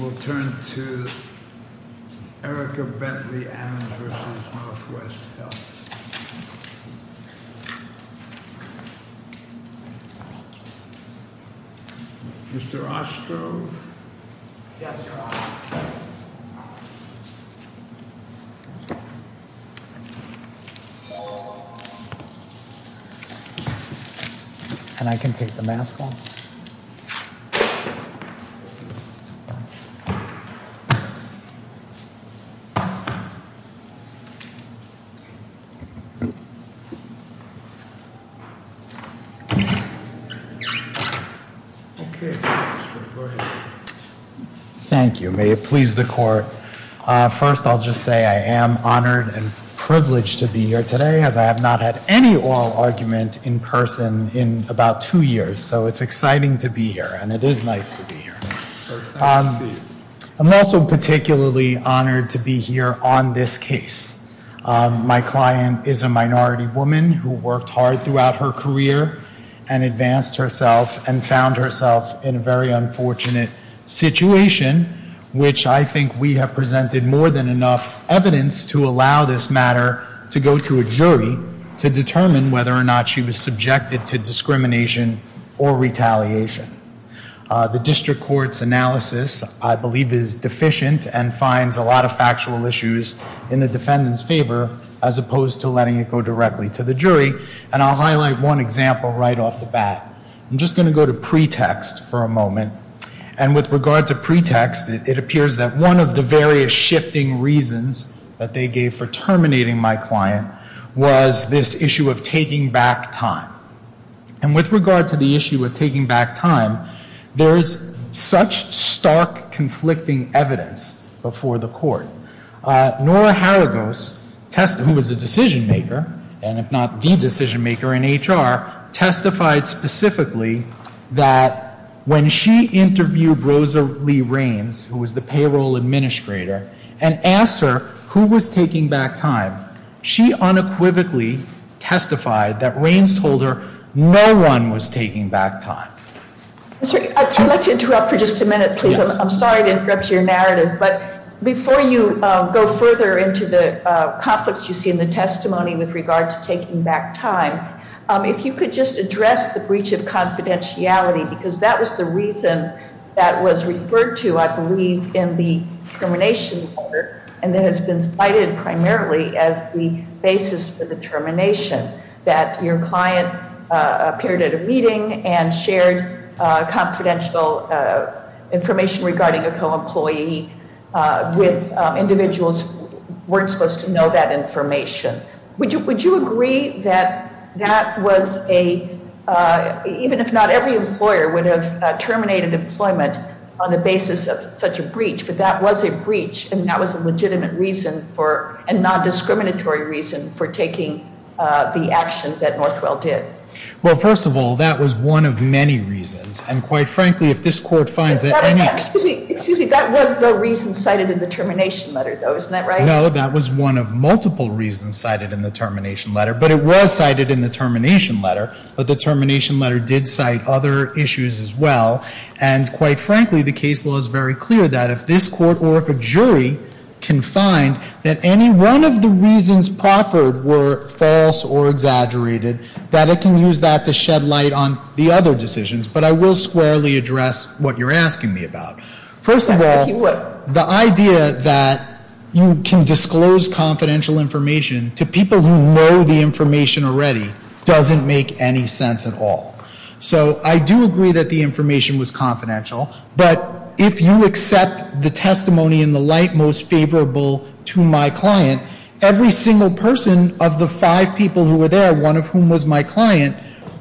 We'll turn to Erica Bentley-Ammonds v. Northwell Health. Mr. Ostroff? Yes, Your Honor. And I can take the mask off? Thank you. Okay, Mr. Ostroff, go ahead. Thank you. May it please the Court. First, I'll just say I am honored and privileged to be here today as I have not had any oral argument in person in about two years. So it's exciting to be here, and it is nice to be here. I'm also particularly honored to be here on this case. My client is a minority woman who worked hard throughout her career and advanced herself and found herself in a very unfortunate situation, which I think we have presented more than enough evidence to allow this matter to go to a jury to determine whether or not she was subjected to discrimination or retaliation. The district court's analysis, I believe, is deficient and finds a lot of factual issues in the defendant's favor as opposed to letting it go directly to the jury. And I'll highlight one example right off the bat. I'm just going to go to pretext for a moment. And with regard to pretext, it appears that one of the various shifting reasons that they gave for terminating my client was this issue of taking back time. And with regard to the issue of taking back time, there is such stark conflicting evidence before the Court. Nora Haragos, who was a decision-maker, and if not the decision-maker in HR, testified specifically that when she interviewed Rosa Lee Raines, who was the payroll administrator, and asked her who was taking back time, she unequivocally testified that Raines told her no one was taking back time. I'd like to interrupt for just a minute, please. I'm sorry to interrupt your narratives. But before you go further into the conflicts you see in the testimony with regard to taking back time, if you could just address the breach of confidentiality, because that was the reason that was referred to, I believe, in the termination order, and that has been cited primarily as the basis for the termination, that your client appeared at a meeting and shared confidential information regarding a co-employee with individuals who weren't supposed to know that information. Would you agree that that was a—even if not every employer would have terminated employment on the basis of such a breach, but that was a breach and that was a legitimate reason for—a non-discriminatory reason for taking the action that Northwell did? Well, first of all, that was one of many reasons, and quite frankly, if this Court finds that any— Excuse me, that was the reason cited in the termination letter, though, isn't that right? No, that was one of multiple reasons cited in the termination letter, but it was cited in the termination letter, but the termination letter did cite other issues as well. And quite frankly, the case law is very clear that if this Court or if a jury can find that any one of the reasons proffered were false or exaggerated, that it can use that to shed light on the other decisions. But I will squarely address what you're asking me about. First of all, the idea that you can disclose confidential information to people who know the information already doesn't make any sense at all. So I do agree that the information was confidential, but if you accept the testimony in the light most favorable to my client, every single person of the five people who were there, one of whom was my client,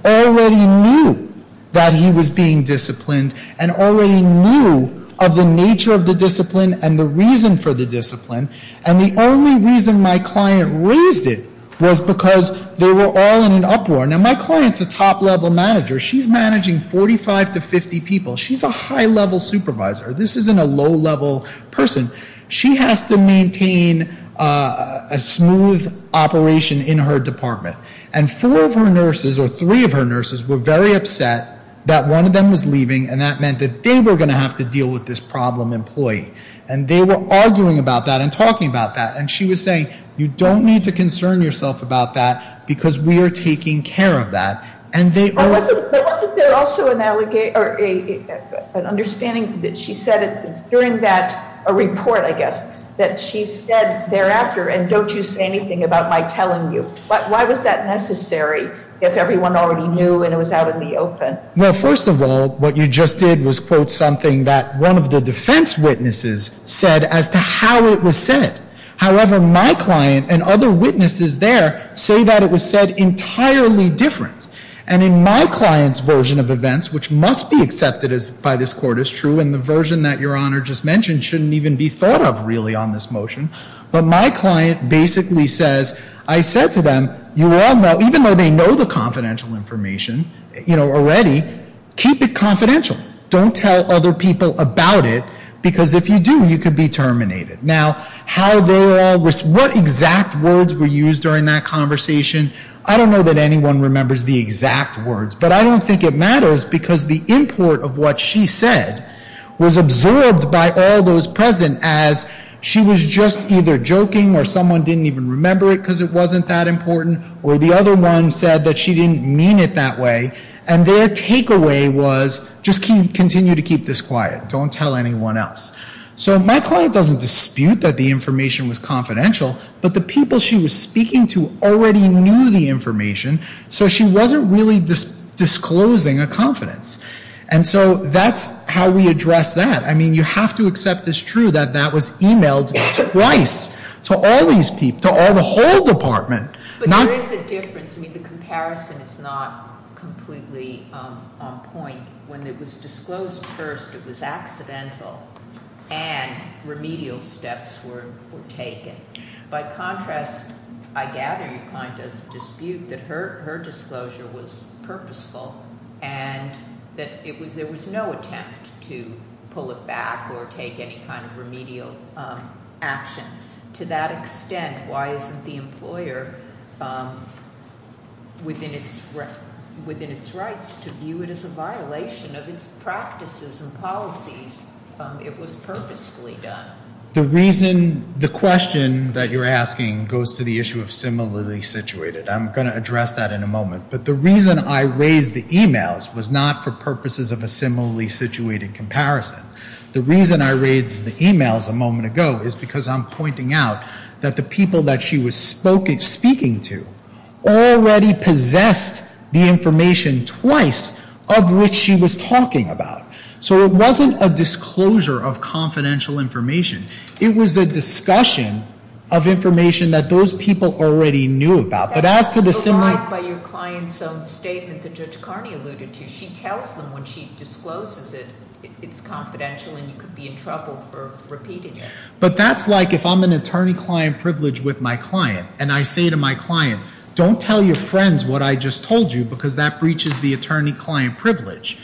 already knew that he was being disciplined and already knew of the nature of the discipline and the reason for the discipline. And the only reason my client raised it was because they were all in an uproar. Now, my client's a top-level manager. She's managing 45 to 50 people. She's a high-level supervisor. This isn't a low-level person. She has to maintain a smooth operation in her department. And four of her nurses or three of her nurses were very upset that one of them was leaving, and that meant that they were going to have to deal with this problem employee. And they were arguing about that and talking about that. And she was saying, you don't need to concern yourself about that because we are taking care of that. And they are— But wasn't there also an understanding that she said during that report, I guess, that she said thereafter, and don't you say anything about my telling you? Why was that necessary if everyone already knew and it was out in the open? Well, first of all, what you just did was quote something that one of the defense witnesses said as to how it was said, however, my client and other witnesses there say that it was said entirely different. And in my client's version of events, which must be accepted by this court as true, and the version that Your Honor just mentioned shouldn't even be thought of really on this motion, but my client basically says, I said to them, you all know, even though they know the confidential information, you know, already, keep it confidential. Don't tell other people about it because if you do, you could be terminated. Now, how they all—what exact words were used during that conversation, I don't know that anyone remembers the exact words, but I don't think it matters because the import of what she said was absorbed by all those present as she was just either joking or someone didn't even remember it because it wasn't that important, or the other one said that she didn't mean it that way, and their takeaway was just continue to keep this quiet. Don't tell anyone else. So my client doesn't dispute that the information was confidential, but the people she was speaking to already knew the information, so she wasn't really disclosing a confidence. And so that's how we address that. I mean, you have to accept as true that that was emailed twice to all these people, to all the whole department. But there is a difference. I mean, the comparison is not completely on point. When it was disclosed first, it was accidental, and remedial steps were taken. By contrast, I gather your client doesn't dispute that her disclosure was purposeful and that there was no attempt to pull it back or take any kind of remedial action. To that extent, why isn't the employer within its rights to view it as a violation of its practices and policies if it was purposefully done? The question that you're asking goes to the issue of similarly situated. I'm going to address that in a moment. But the reason I raised the emails was not for purposes of a similarly situated comparison. The reason I raised the emails a moment ago is because I'm pointing out that the people that she was speaking to already possessed the information twice of which she was talking about. So it wasn't a disclosure of confidential information. It was a discussion of information that those people already knew about. But as to the similar— That's a lot by your client's own statement that Judge Carney alluded to. She tells them when she discloses it, it's confidential and you could be in trouble for repeating it. But that's like if I'm an attorney-client privileged with my client and I say to my client, don't tell your friends what I just told you because that breaches the attorney-client privilege.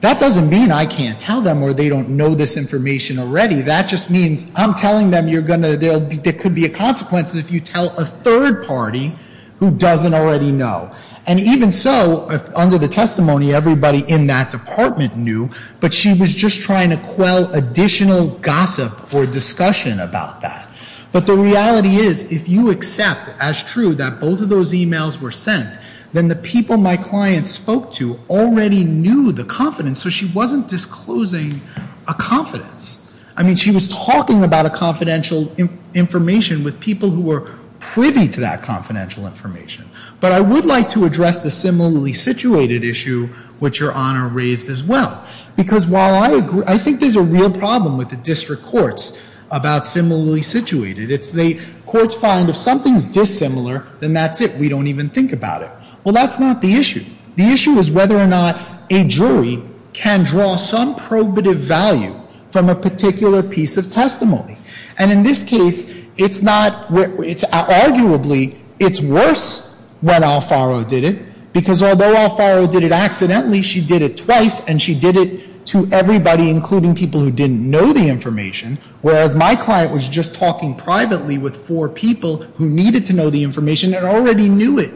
That doesn't mean I can't tell them or they don't know this information already. That just means I'm telling them there could be a consequence if you tell a third party who doesn't already know. And even so, under the testimony, everybody in that department knew, but she was just trying to quell additional gossip or discussion about that. But the reality is if you accept as true that both of those emails were sent, then the people my client spoke to already knew the confidence, so she wasn't disclosing a confidence. I mean, she was talking about a confidential information with people who were privy to that confidential information. But I would like to address the similarly situated issue which Your Honor raised as well. Because while I agree, I think there's a real problem with the district courts about similarly situated. It's the courts find if something's dissimilar, then that's it. We don't even think about it. Well, that's not the issue. The issue is whether or not a jury can draw some probative value from a particular piece of testimony. And in this case, it's not — arguably, it's worse when Alfaro did it, because although Alfaro did it accidentally, she did it twice, and she did it to everybody including people who didn't know the information, whereas my client was just talking privately with four people who needed to know the information and already knew it.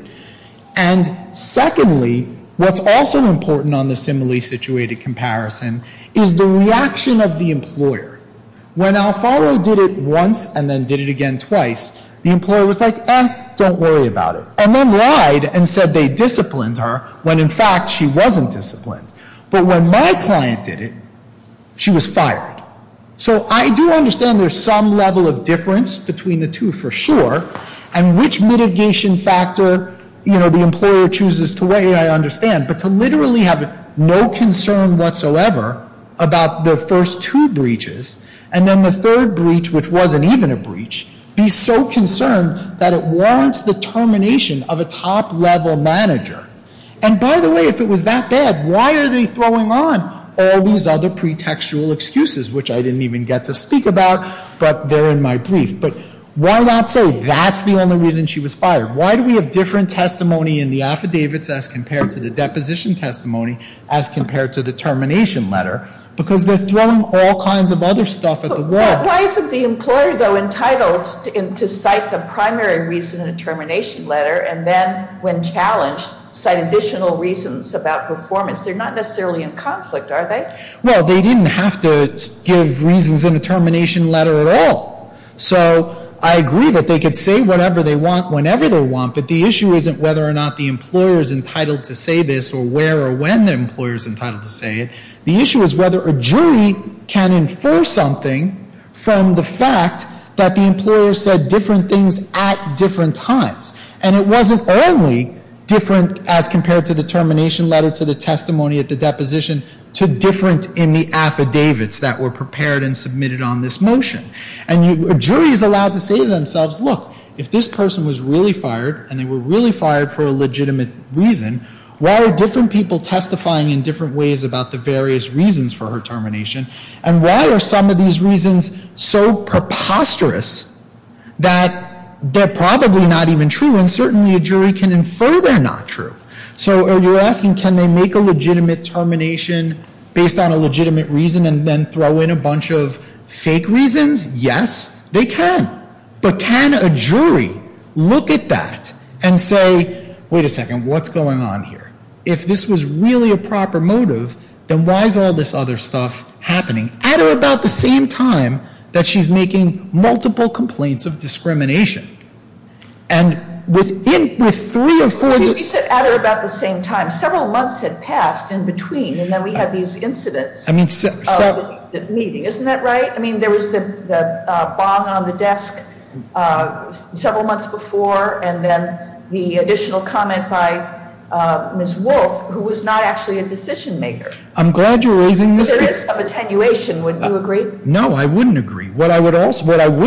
And secondly, what's also important on the similarly situated comparison is the reaction of the employer. When Alfaro did it once and then did it again twice, the employer was like, eh, don't worry about it. And then lied and said they disciplined her when in fact she wasn't disciplined. But when my client did it, she was fired. So I do understand there's some level of difference between the two for sure, and which mitigation factor, you know, the employer chooses to weigh, I understand. But to literally have no concern whatsoever about the first two breaches and then the third breach, which wasn't even a breach, be so concerned that it warrants the termination of a top-level manager. And by the way, if it was that bad, why are they throwing on all these other pretextual excuses, which I didn't even get to speak about, but they're in my brief. But why not say that's the only reason she was fired? Why do we have different testimony in the affidavits as compared to the deposition testimony as compared to the termination letter? Because they're throwing all kinds of other stuff at the wall. But why isn't the employer, though, entitled to cite the primary reason in the termination letter and then, when challenged, cite additional reasons about performance? They're not necessarily in conflict, are they? Well, they didn't have to give reasons in the termination letter at all. So I agree that they could say whatever they want whenever they want, but the issue isn't whether or not the employer is entitled to say this or where or when the employer is entitled to say it. The issue is whether a jury can infer something from the fact that the employer said different things at different times. And it wasn't only different as compared to the termination letter, to the testimony at the deposition, to different in the affidavits that were prepared and submitted on this motion. And a jury is allowed to say to themselves, look, if this person was really fired and they were really fired for a legitimate reason, why are different people testifying in different ways about the various reasons for her termination? And why are some of these reasons so preposterous that they're probably not even true? And certainly a jury can infer they're not true. So you're asking, can they make a legitimate termination based on a legitimate reason and then throw in a bunch of fake reasons? Yes, they can. But can a jury look at that and say, wait a second, what's going on here? If this was really a proper motive, then why is all this other stuff happening at or about the same time that she's making multiple complaints of discrimination? And within three or four days... But you said at or about the same time. Several months had passed in between, and then we had these incidents of the meeting. Isn't that right? I mean, there was the bong on the desk several months before and then the additional comment by Ms. Wolfe, who was not actually a decision-maker. I'm glad you're raising this... There is some attenuation, wouldn't you agree? No, I wouldn't agree. What I would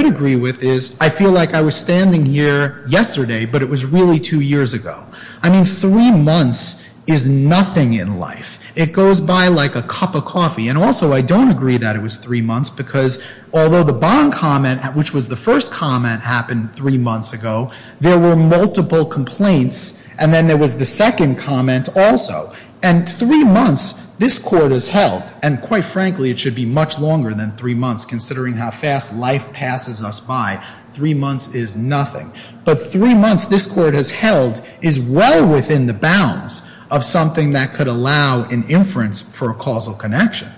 agree with is, I feel like I was standing here yesterday, but it was really two years ago. I mean, three months is nothing in life. It goes by like a cup of coffee. And also, I don't agree that it was three months, because although the bong comment, which was the first comment, happened three months ago, there were multiple complaints, and then there was the second comment also. And three months, this court has held, and quite frankly, it should be much longer than three months considering how fast life passes us by. Three months is nothing. But three months, this court has held, is well within the bounds of something that could allow an inference for a causal connection.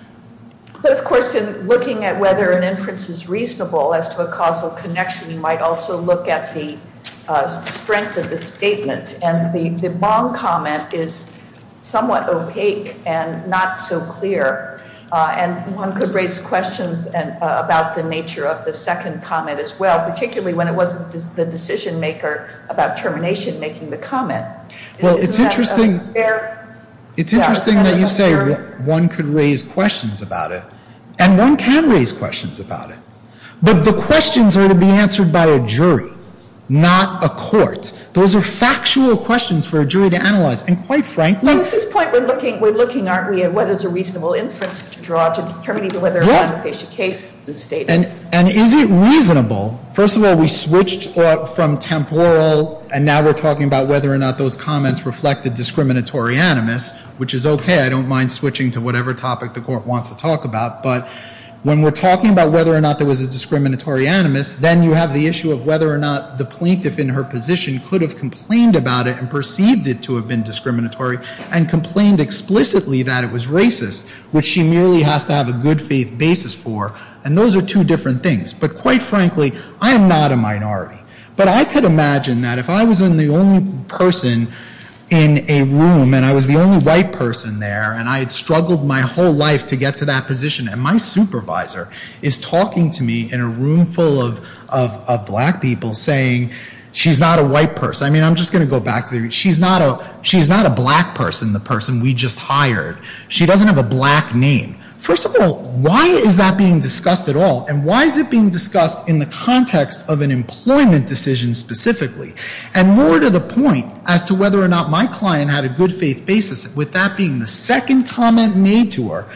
But, of course, in looking at whether an inference is reasonable as to a causal connection, you might also look at the strength of the statement. And the bong comment is somewhat opaque and not so clear. And one could raise questions about the nature of the second comment as well, particularly when it wasn't the decision-maker about termination making the comment. Well, it's interesting that you say one could raise questions about it. And one can raise questions about it. But the questions are to be answered by a jury, not a court. Those are factual questions for a jury to analyze. At this point, we're looking, aren't we, at what is a reasonable inference to draw to determine whether or not a patient case is stated. And is it reasonable? First of all, we switched from temporal, and now we're talking about whether or not those comments reflected discriminatory animus, which is okay. I don't mind switching to whatever topic the court wants to talk about. But when we're talking about whether or not there was a discriminatory animus, then you have the issue of whether or not the plaintiff in her position could have complained about it and perceived it to have been discriminatory and complained explicitly that it was racist, which she merely has to have a good faith basis for. And those are two different things. But quite frankly, I am not a minority. But I could imagine that if I was the only person in a room, and I was the only white person there, and I had struggled my whole life to get to that position, and my supervisor is talking to me in a room full of black people saying she's not a white person. I mean, I'm just going to go back there. She's not a black person, the person we just hired. She doesn't have a black name. First of all, why is that being discussed at all? And why is it being discussed in the context of an employment decision specifically? And more to the point, as to whether or not my client had a good faith basis, with that being the second comment made to her,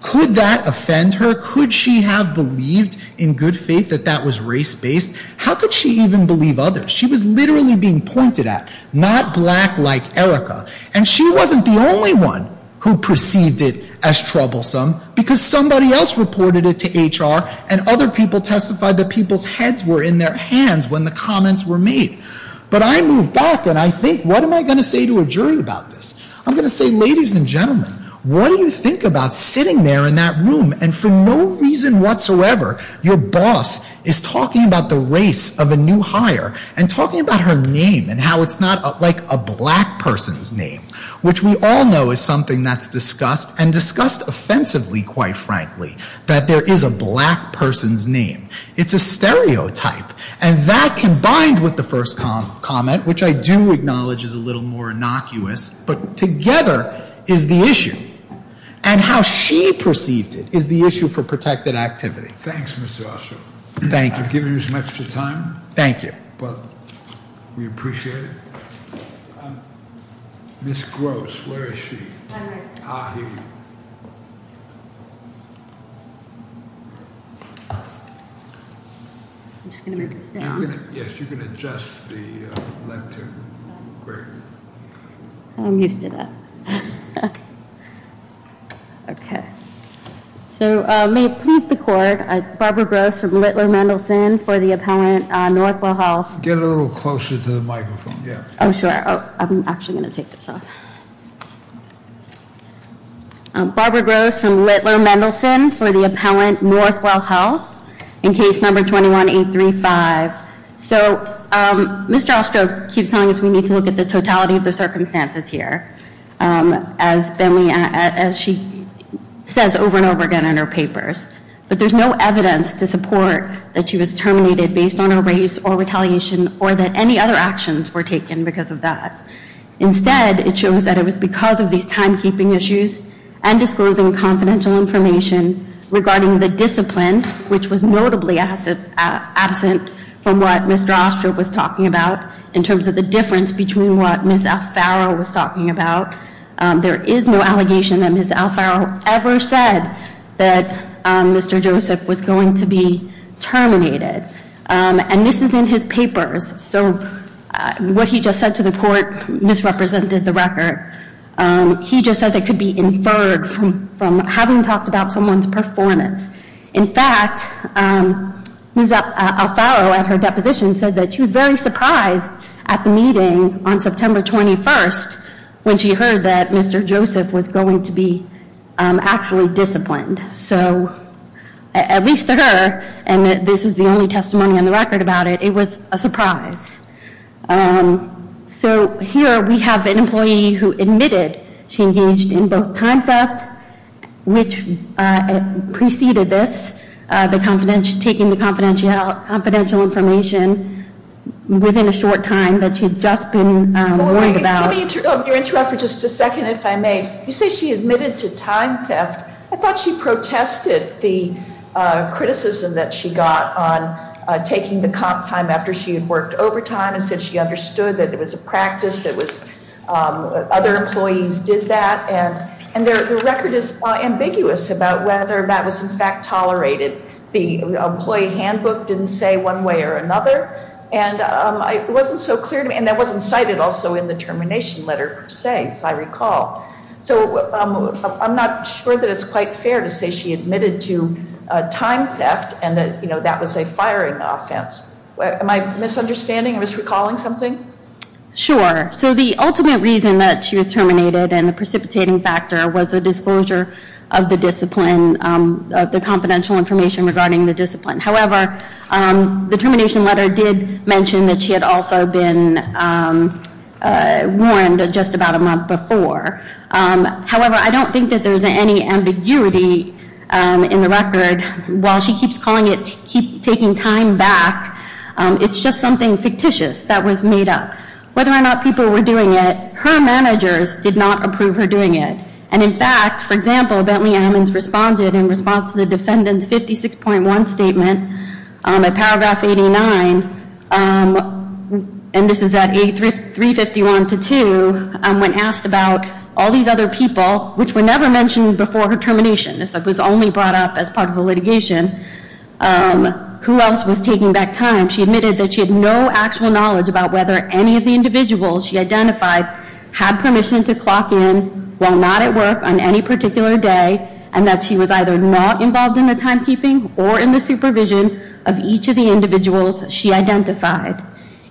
could that offend her? Could she have believed in good faith that that was race-based? How could she even believe others? She was literally being pointed at. Not black like Erica. And she wasn't the only one who perceived it as troublesome, because somebody else reported it to HR, and other people testified that people's heads were in their hands when the comments were made. But I move back, and I think, what am I going to say to a jury about this? I'm going to say, ladies and gentlemen, what do you think about sitting there in that room, and for no reason whatsoever, your boss is talking about the race of a new hire, and talking about her name, and how it's not like a black person's name, which we all know is something that's discussed, and discussed offensively, quite frankly, that there is a black person's name. It's a stereotype. And that, combined with the first comment, which I do acknowledge is a little more innocuous, but together is the issue. And how she perceived it is the issue for protected activity. Thanks, Mr. Ossoff. Thank you. I've given you as much of the time. Thank you. But we appreciate it. Ms. Gross, where is she? I'm right here. Ah, here you are. I'm just going to make this down. Yes, you can adjust the length here. Great. I'm used to that. Okay. So may it please the court, Barbara Gross from Littler Mendelsohn for the appellant, Northwell Health. Get a little closer to the microphone. Oh, sure. I'm actually going to take this off. Barbara Gross from Littler Mendelsohn for the appellant, Northwell Health, in case number 21835. So Mr. Ossoff keeps telling us we need to look at the totality of the circumstances here. As she says over and over again in her papers, but there's no evidence to support that she was terminated based on her race or retaliation or that any other actions were taken because of that. Instead, it shows that it was because of these timekeeping issues and disclosing confidential information regarding the discipline, which was notably absent from what Ms. Drostrup was talking about in terms of the difference between what Ms. Alfaro was talking about. There is no allegation that Ms. Alfaro ever said that Mr. Joseph was going to be terminated. And this is in his papers. So what he just said to the court misrepresented the record. He just says it could be inferred from having talked about someone's performance. In fact, Ms. Alfaro at her deposition said that she was very surprised at the meeting on September 21st when she heard that Mr. Joseph was going to be actually disciplined. So at least to her, and this is the only testimony on the record about it, it was a surprise. So here we have an employee who admitted she engaged in both time theft, which preceded this, taking the confidential information within a short time that she had just been warned about. Let me interrupt for just a second, if I may. You say she admitted to time theft. I thought she protested the criticism that she got on taking the comp time after she had worked overtime and said she understood that it was a practice, that other employees did that. And the record is ambiguous about whether that was in fact tolerated. The employee handbook didn't say one way or another. And it wasn't so clear to me. And that wasn't cited also in the termination letter per se, as I recall. So I'm not sure that it's quite fair to say she admitted to time theft and that that was a firing offense. Am I misunderstanding? Am I misrecalling something? Sure. So the ultimate reason that she was terminated and the precipitating factor was a disclosure of the discipline, of the confidential information regarding the discipline. However, the termination letter did mention that she had also been warned just about a month before. However, I don't think that there's any ambiguity in the record. While she keeps calling it taking time back, it's just something fictitious that was made up. Whether or not people were doing it, her managers did not approve her doing it. And in fact, for example, Bentley Ammons responded in response to the defendant's 56.1 statement in paragraph 89, and this is at A351-2, when asked about all these other people, which were never mentioned before her termination. This was only brought up as part of the litigation. Who else was taking back time? She admitted that she had no actual knowledge about whether any of the individuals she identified had permission to clock in while not at work on any particular day and that she was either not involved in the timekeeping or in the supervision of each of the individuals she identified.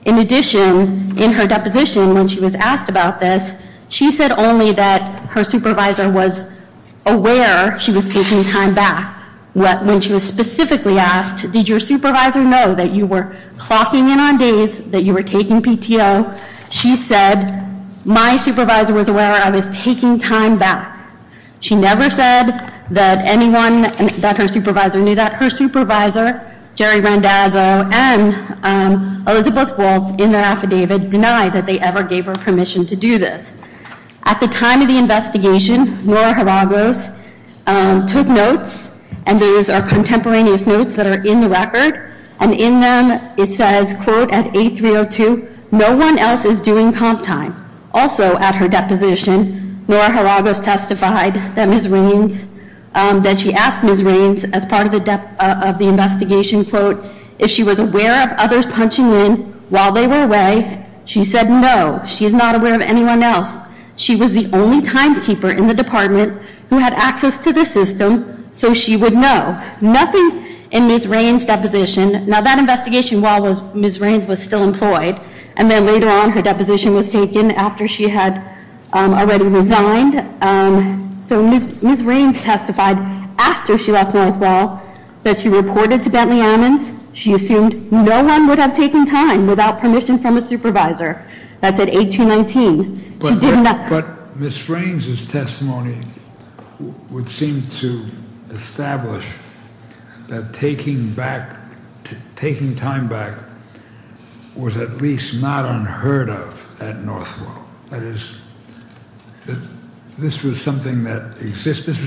In addition, in her deposition when she was asked about this, she said only that her supervisor was aware she was taking time back. When she was specifically asked, did your supervisor know that you were clocking in on days, that you were taking PTO, she said, my supervisor was aware I was taking time back. She never said that anyone, that her supervisor knew that. Her supervisor, Jerry Randazzo and Elizabeth Wolfe, in their affidavit, denied that they ever gave her permission to do this. At the time of the investigation, Nora Hiragos took notes, and these are contemporaneous notes that are in the record, and in them it says, quote, at 8-3-0-2, no one else is doing comp time. Also at her deposition, Nora Hiragos testified that Ms. Reams, that she asked Ms. Reams as part of the investigation, quote, if she was aware of others punching in while they were away, she said no, she is not aware of anyone else. She was the only timekeeper in the department who had access to the system, so she would know. Nothing in Ms. Reams' deposition, now that investigation while Ms. Reams was still employed, and then later on her deposition was taken after she had already resigned. So Ms. Reams testified after she left Northwell that she reported to Bentley Ammons. She assumed no one would have taken time without permission from a supervisor. That's at 8-2-19. She did not- But Ms. Reams' testimony would seem to establish that taking time back was at least not unheard of at Northwell. That is, this was something that existed,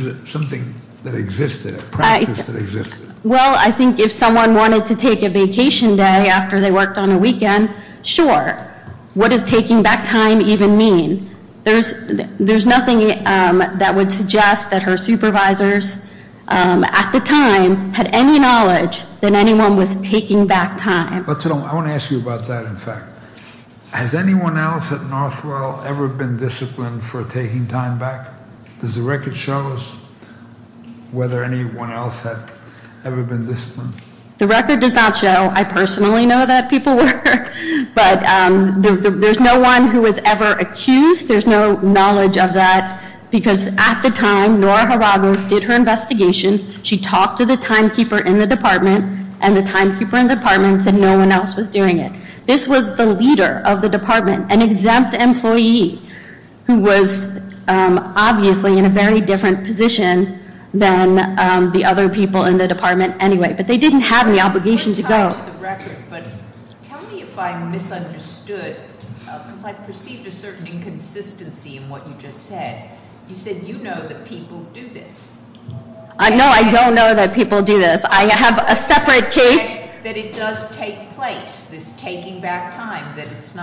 a practice that existed. Well, I think if someone wanted to take a vacation day after they worked on a weekend, sure. What does taking back time even mean? There's nothing that would suggest that her supervisors at the time had any knowledge that anyone was taking back time. I want to ask you about that, in fact. Has anyone else at Northwell ever been disciplined for taking time back? Does the record show us whether anyone else had ever been disciplined? The record does not show. I personally know that people were. But there's no one who was ever accused. There's no knowledge of that, because at the time, Nora Jaragos did her investigation. She talked to the timekeeper in the department, and the timekeeper in the department said no one else was doing it. This was the leader of the department, an exempt employee, who was obviously in a very different position than the other people in the department anyway. But they didn't have any obligation to go. Tell me if I misunderstood, because I perceived a certain inconsistency in what you just said. You said you know that people do this. No, I don't know that people do this. I have a separate case. That it does take place, this taking back time.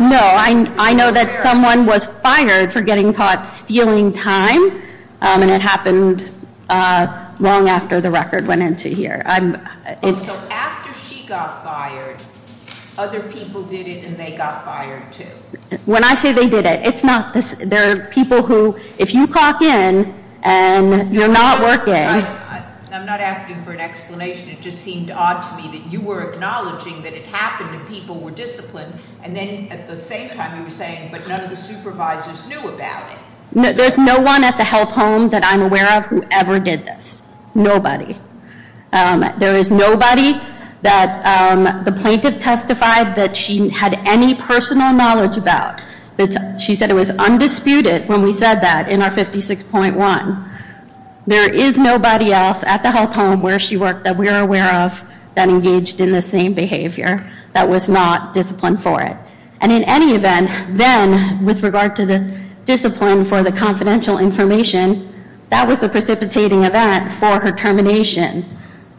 No, I know that someone was fired for getting caught stealing time. And it happened long after the record went into here. So after she got fired, other people did it, and they got fired too? When I say they did it, it's not this. There are people who, if you caulk in, and you're not working. I'm not asking for an explanation. It just seemed odd to me that you were acknowledging that it happened and people were disciplined. And then at the same time you were saying, but none of the supervisors knew about it. There's no one at the health home that I'm aware of who ever did this. Nobody. There is nobody that the plaintiff testified that she had any personal knowledge about. She said it was undisputed when we said that in our 56.1. There is nobody else at the health home where she worked that we're aware of that engaged in the same behavior. That was not disciplined for it. And in any event, then with regard to the discipline for the confidential information, that was a precipitating event for her termination.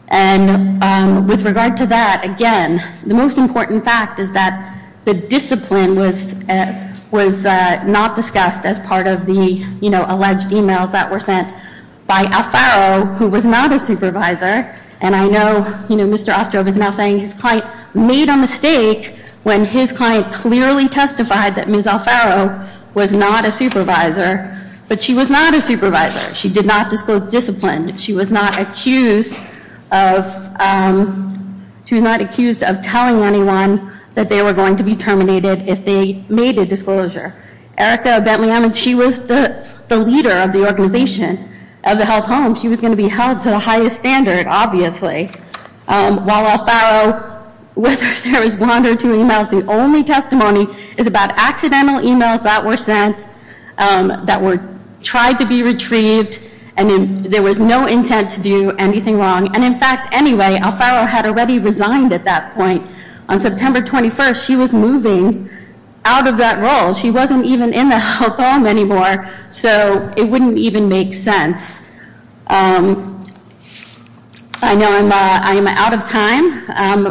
And with regard to that, again, the most important fact is that the discipline was not discussed as part of the alleged emails that were sent by Alfaro, who was not a supervisor. And I know Mr. Ostroff is now saying his client made a mistake when his client clearly testified that Ms. Alfaro was not a supervisor. But she was not a supervisor. She did not disclose discipline. She was not accused of telling anyone that they were going to be terminated if they made a disclosure. Erica Bentley Emmons, she was the leader of the organization of the health home. She was going to be held to the highest standard, obviously, while Alfaro, whether there was one or two emails, the only testimony is about accidental emails that were sent that were tried to be retrieved, and there was no intent to do anything wrong. And, in fact, anyway, Alfaro had already resigned at that point. On September 21st, she was moving out of that role. She wasn't even in the health home anymore, so it wouldn't even make sense. I know I'm out of time.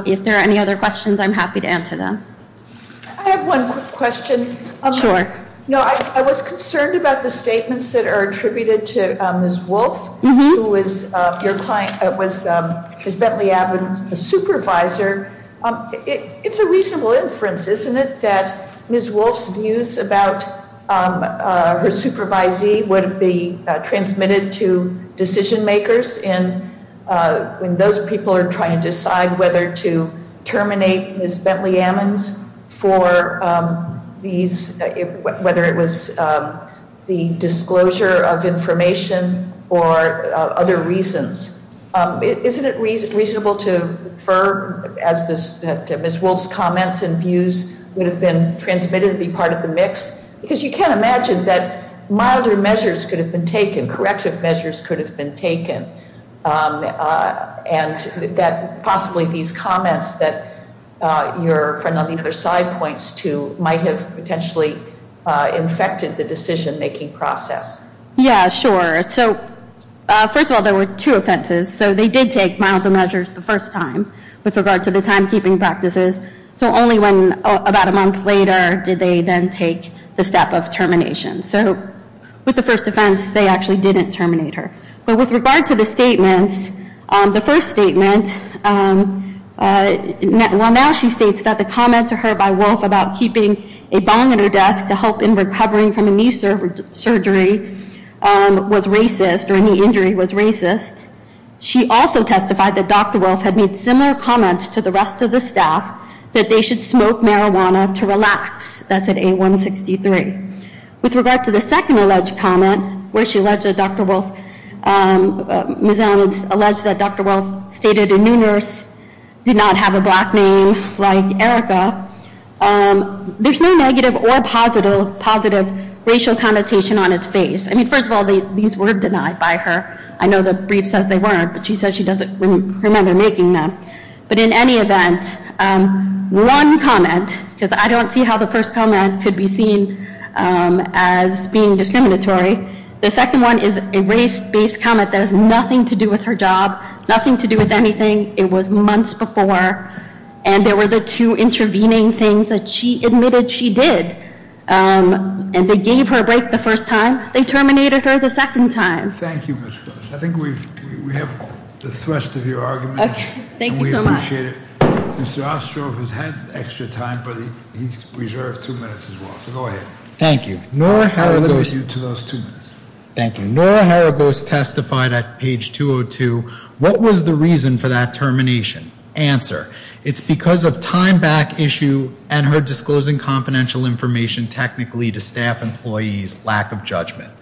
If there are any other questions, I'm happy to answer them. I have one quick question. Sure. I was concerned about the statements that are attributed to Ms. Wolfe, who was your client, who was Ms. Bentley Emmons' supervisor. It's a reasonable inference, isn't it, that Ms. Wolfe's views about her supervisee would be transmitted to decision makers when those people are trying to decide whether to terminate Ms. Bentley Emmons for these, whether it was the disclosure of information or other reasons. Isn't it reasonable to infer that Ms. Wolfe's comments and views would have been transmitted to be part of the mix? Because you can't imagine that milder measures could have been taken, corrective measures could have been taken, and that possibly these comments that your friend on the other side points to might have potentially infected the decision-making process. Yeah, sure. So first of all, there were two offenses. So they did take milder measures the first time with regard to the timekeeping practices. So only about a month later did they then take the step of termination. So with the first offense, they actually didn't terminate her. But with regard to the statements, the first statement, well, now she states that the comment to her by Wolfe about keeping a bong at her desk to help in recovering from a knee surgery was racist, or a knee injury was racist. She also testified that Dr. Wolfe had made similar comments to the rest of the staff that they should smoke marijuana to relax. That's at A163. With regard to the second alleged comment, where she alleged that Dr. Wolfe, Ms. Emmons alleged that Dr. Wolfe stated a new nurse did not have a black name like Erica, there's no negative or positive racial connotation on its face. I mean, first of all, these were denied by her. I know the brief says they weren't, but she says she doesn't remember making them. But in any event, one comment, because I don't see how the first comment could be seen as being discriminatory. The second one is a race-based comment that has nothing to do with her job, nothing to do with anything. It was months before. And there were the two intervening things that she admitted she did. And they gave her a break the first time. They terminated her the second time. Thank you, Ms. Phillips. I think we have the thrust of your argument. Okay, thank you so much. And we appreciate it. Mr. Ostroff has had extra time, but he's reserved two minutes as well. So go ahead. Thank you. I'll leave it with you to those two minutes. Thank you. Nora Haragos testified at page 202. What was the reason for that termination? Answer. It's because of time back issue and her disclosing confidential information technically to staff employees' lack of judgment.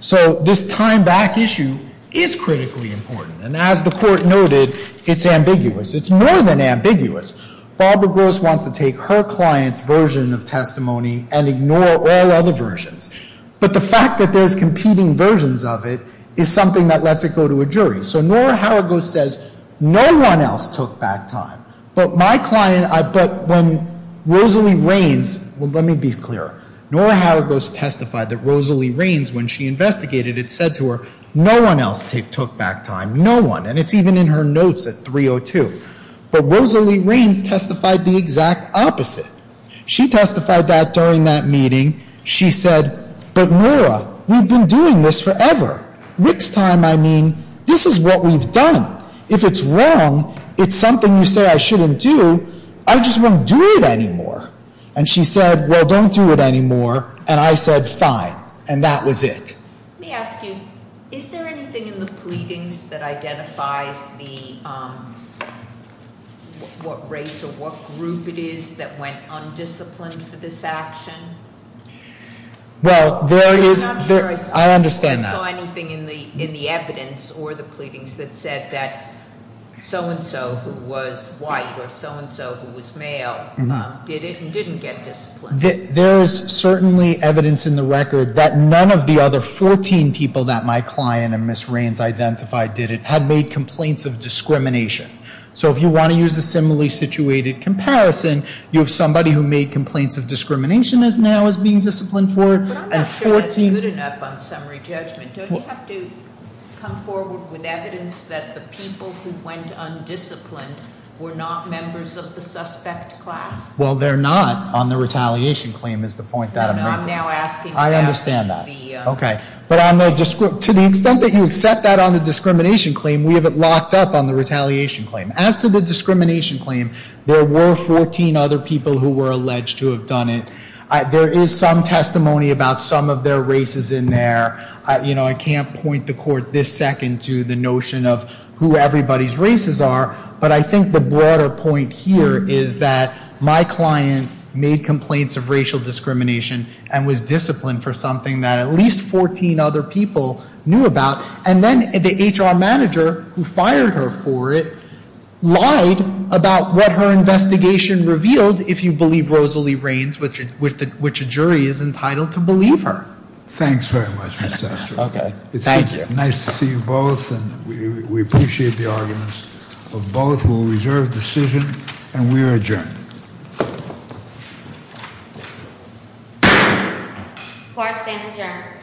So this time back issue is critically important. It's more than ambiguous. Barbara Gross wants to take her client's version of testimony and ignore all other versions. But the fact that there's competing versions of it is something that lets it go to a jury. So Nora Haragos says, no one else took back time. But my client, but when Rosalie Rains, well, let me be clear. Nora Haragos testified that Rosalie Rains, when she investigated, had said to her, no one else took back time. No one. And it's even in her notes at 302. But Rosalie Rains testified the exact opposite. She testified that during that meeting. She said, but Nora, we've been doing this forever. Next time I mean, this is what we've done. If it's wrong, it's something you say I shouldn't do, I just won't do it anymore. And she said, well, don't do it anymore. And I said, fine. And that was it. Let me ask you, is there anything in the pleadings that identifies what race or what group it is that went undisciplined for this action? Well, there is. I understand that. I'm not sure I saw anything in the evidence or the pleadings that said that so and so who was white or so and so who was male did it and didn't get disciplined. There is certainly evidence in the record that none of the other 14 people that my client and Ms. Rains identified did it, had made complaints of discrimination. So if you want to use a similarly situated comparison, you have somebody who made complaints of discrimination now is being disciplined for. But I'm not sure that's good enough on summary judgment. Don't you have to come forward with evidence that the people who went undisciplined were not members of the suspect class? Well, they're not on the retaliation claim is the point that I'm making. I'm now asking about the- I understand that. Okay. But to the extent that you accept that on the discrimination claim, we have it locked up on the retaliation claim. As to the discrimination claim, there were 14 other people who were alleged to have done it. There is some testimony about some of their races in there. I can't point the court this second to the notion of who everybody's races are. But I think the broader point here is that my client made complaints of racial discrimination and was disciplined for something that at least 14 other people knew about. And then the HR manager who fired her for it lied about what her investigation revealed, if you believe Rosalie Rains, which a jury is entitled to believe her. Thanks very much, Mr. Astor. Okay. Thank you. Nice to see you both, and we appreciate the arguments of both. We'll reserve decision, and we are adjourned. Court stands adjourned.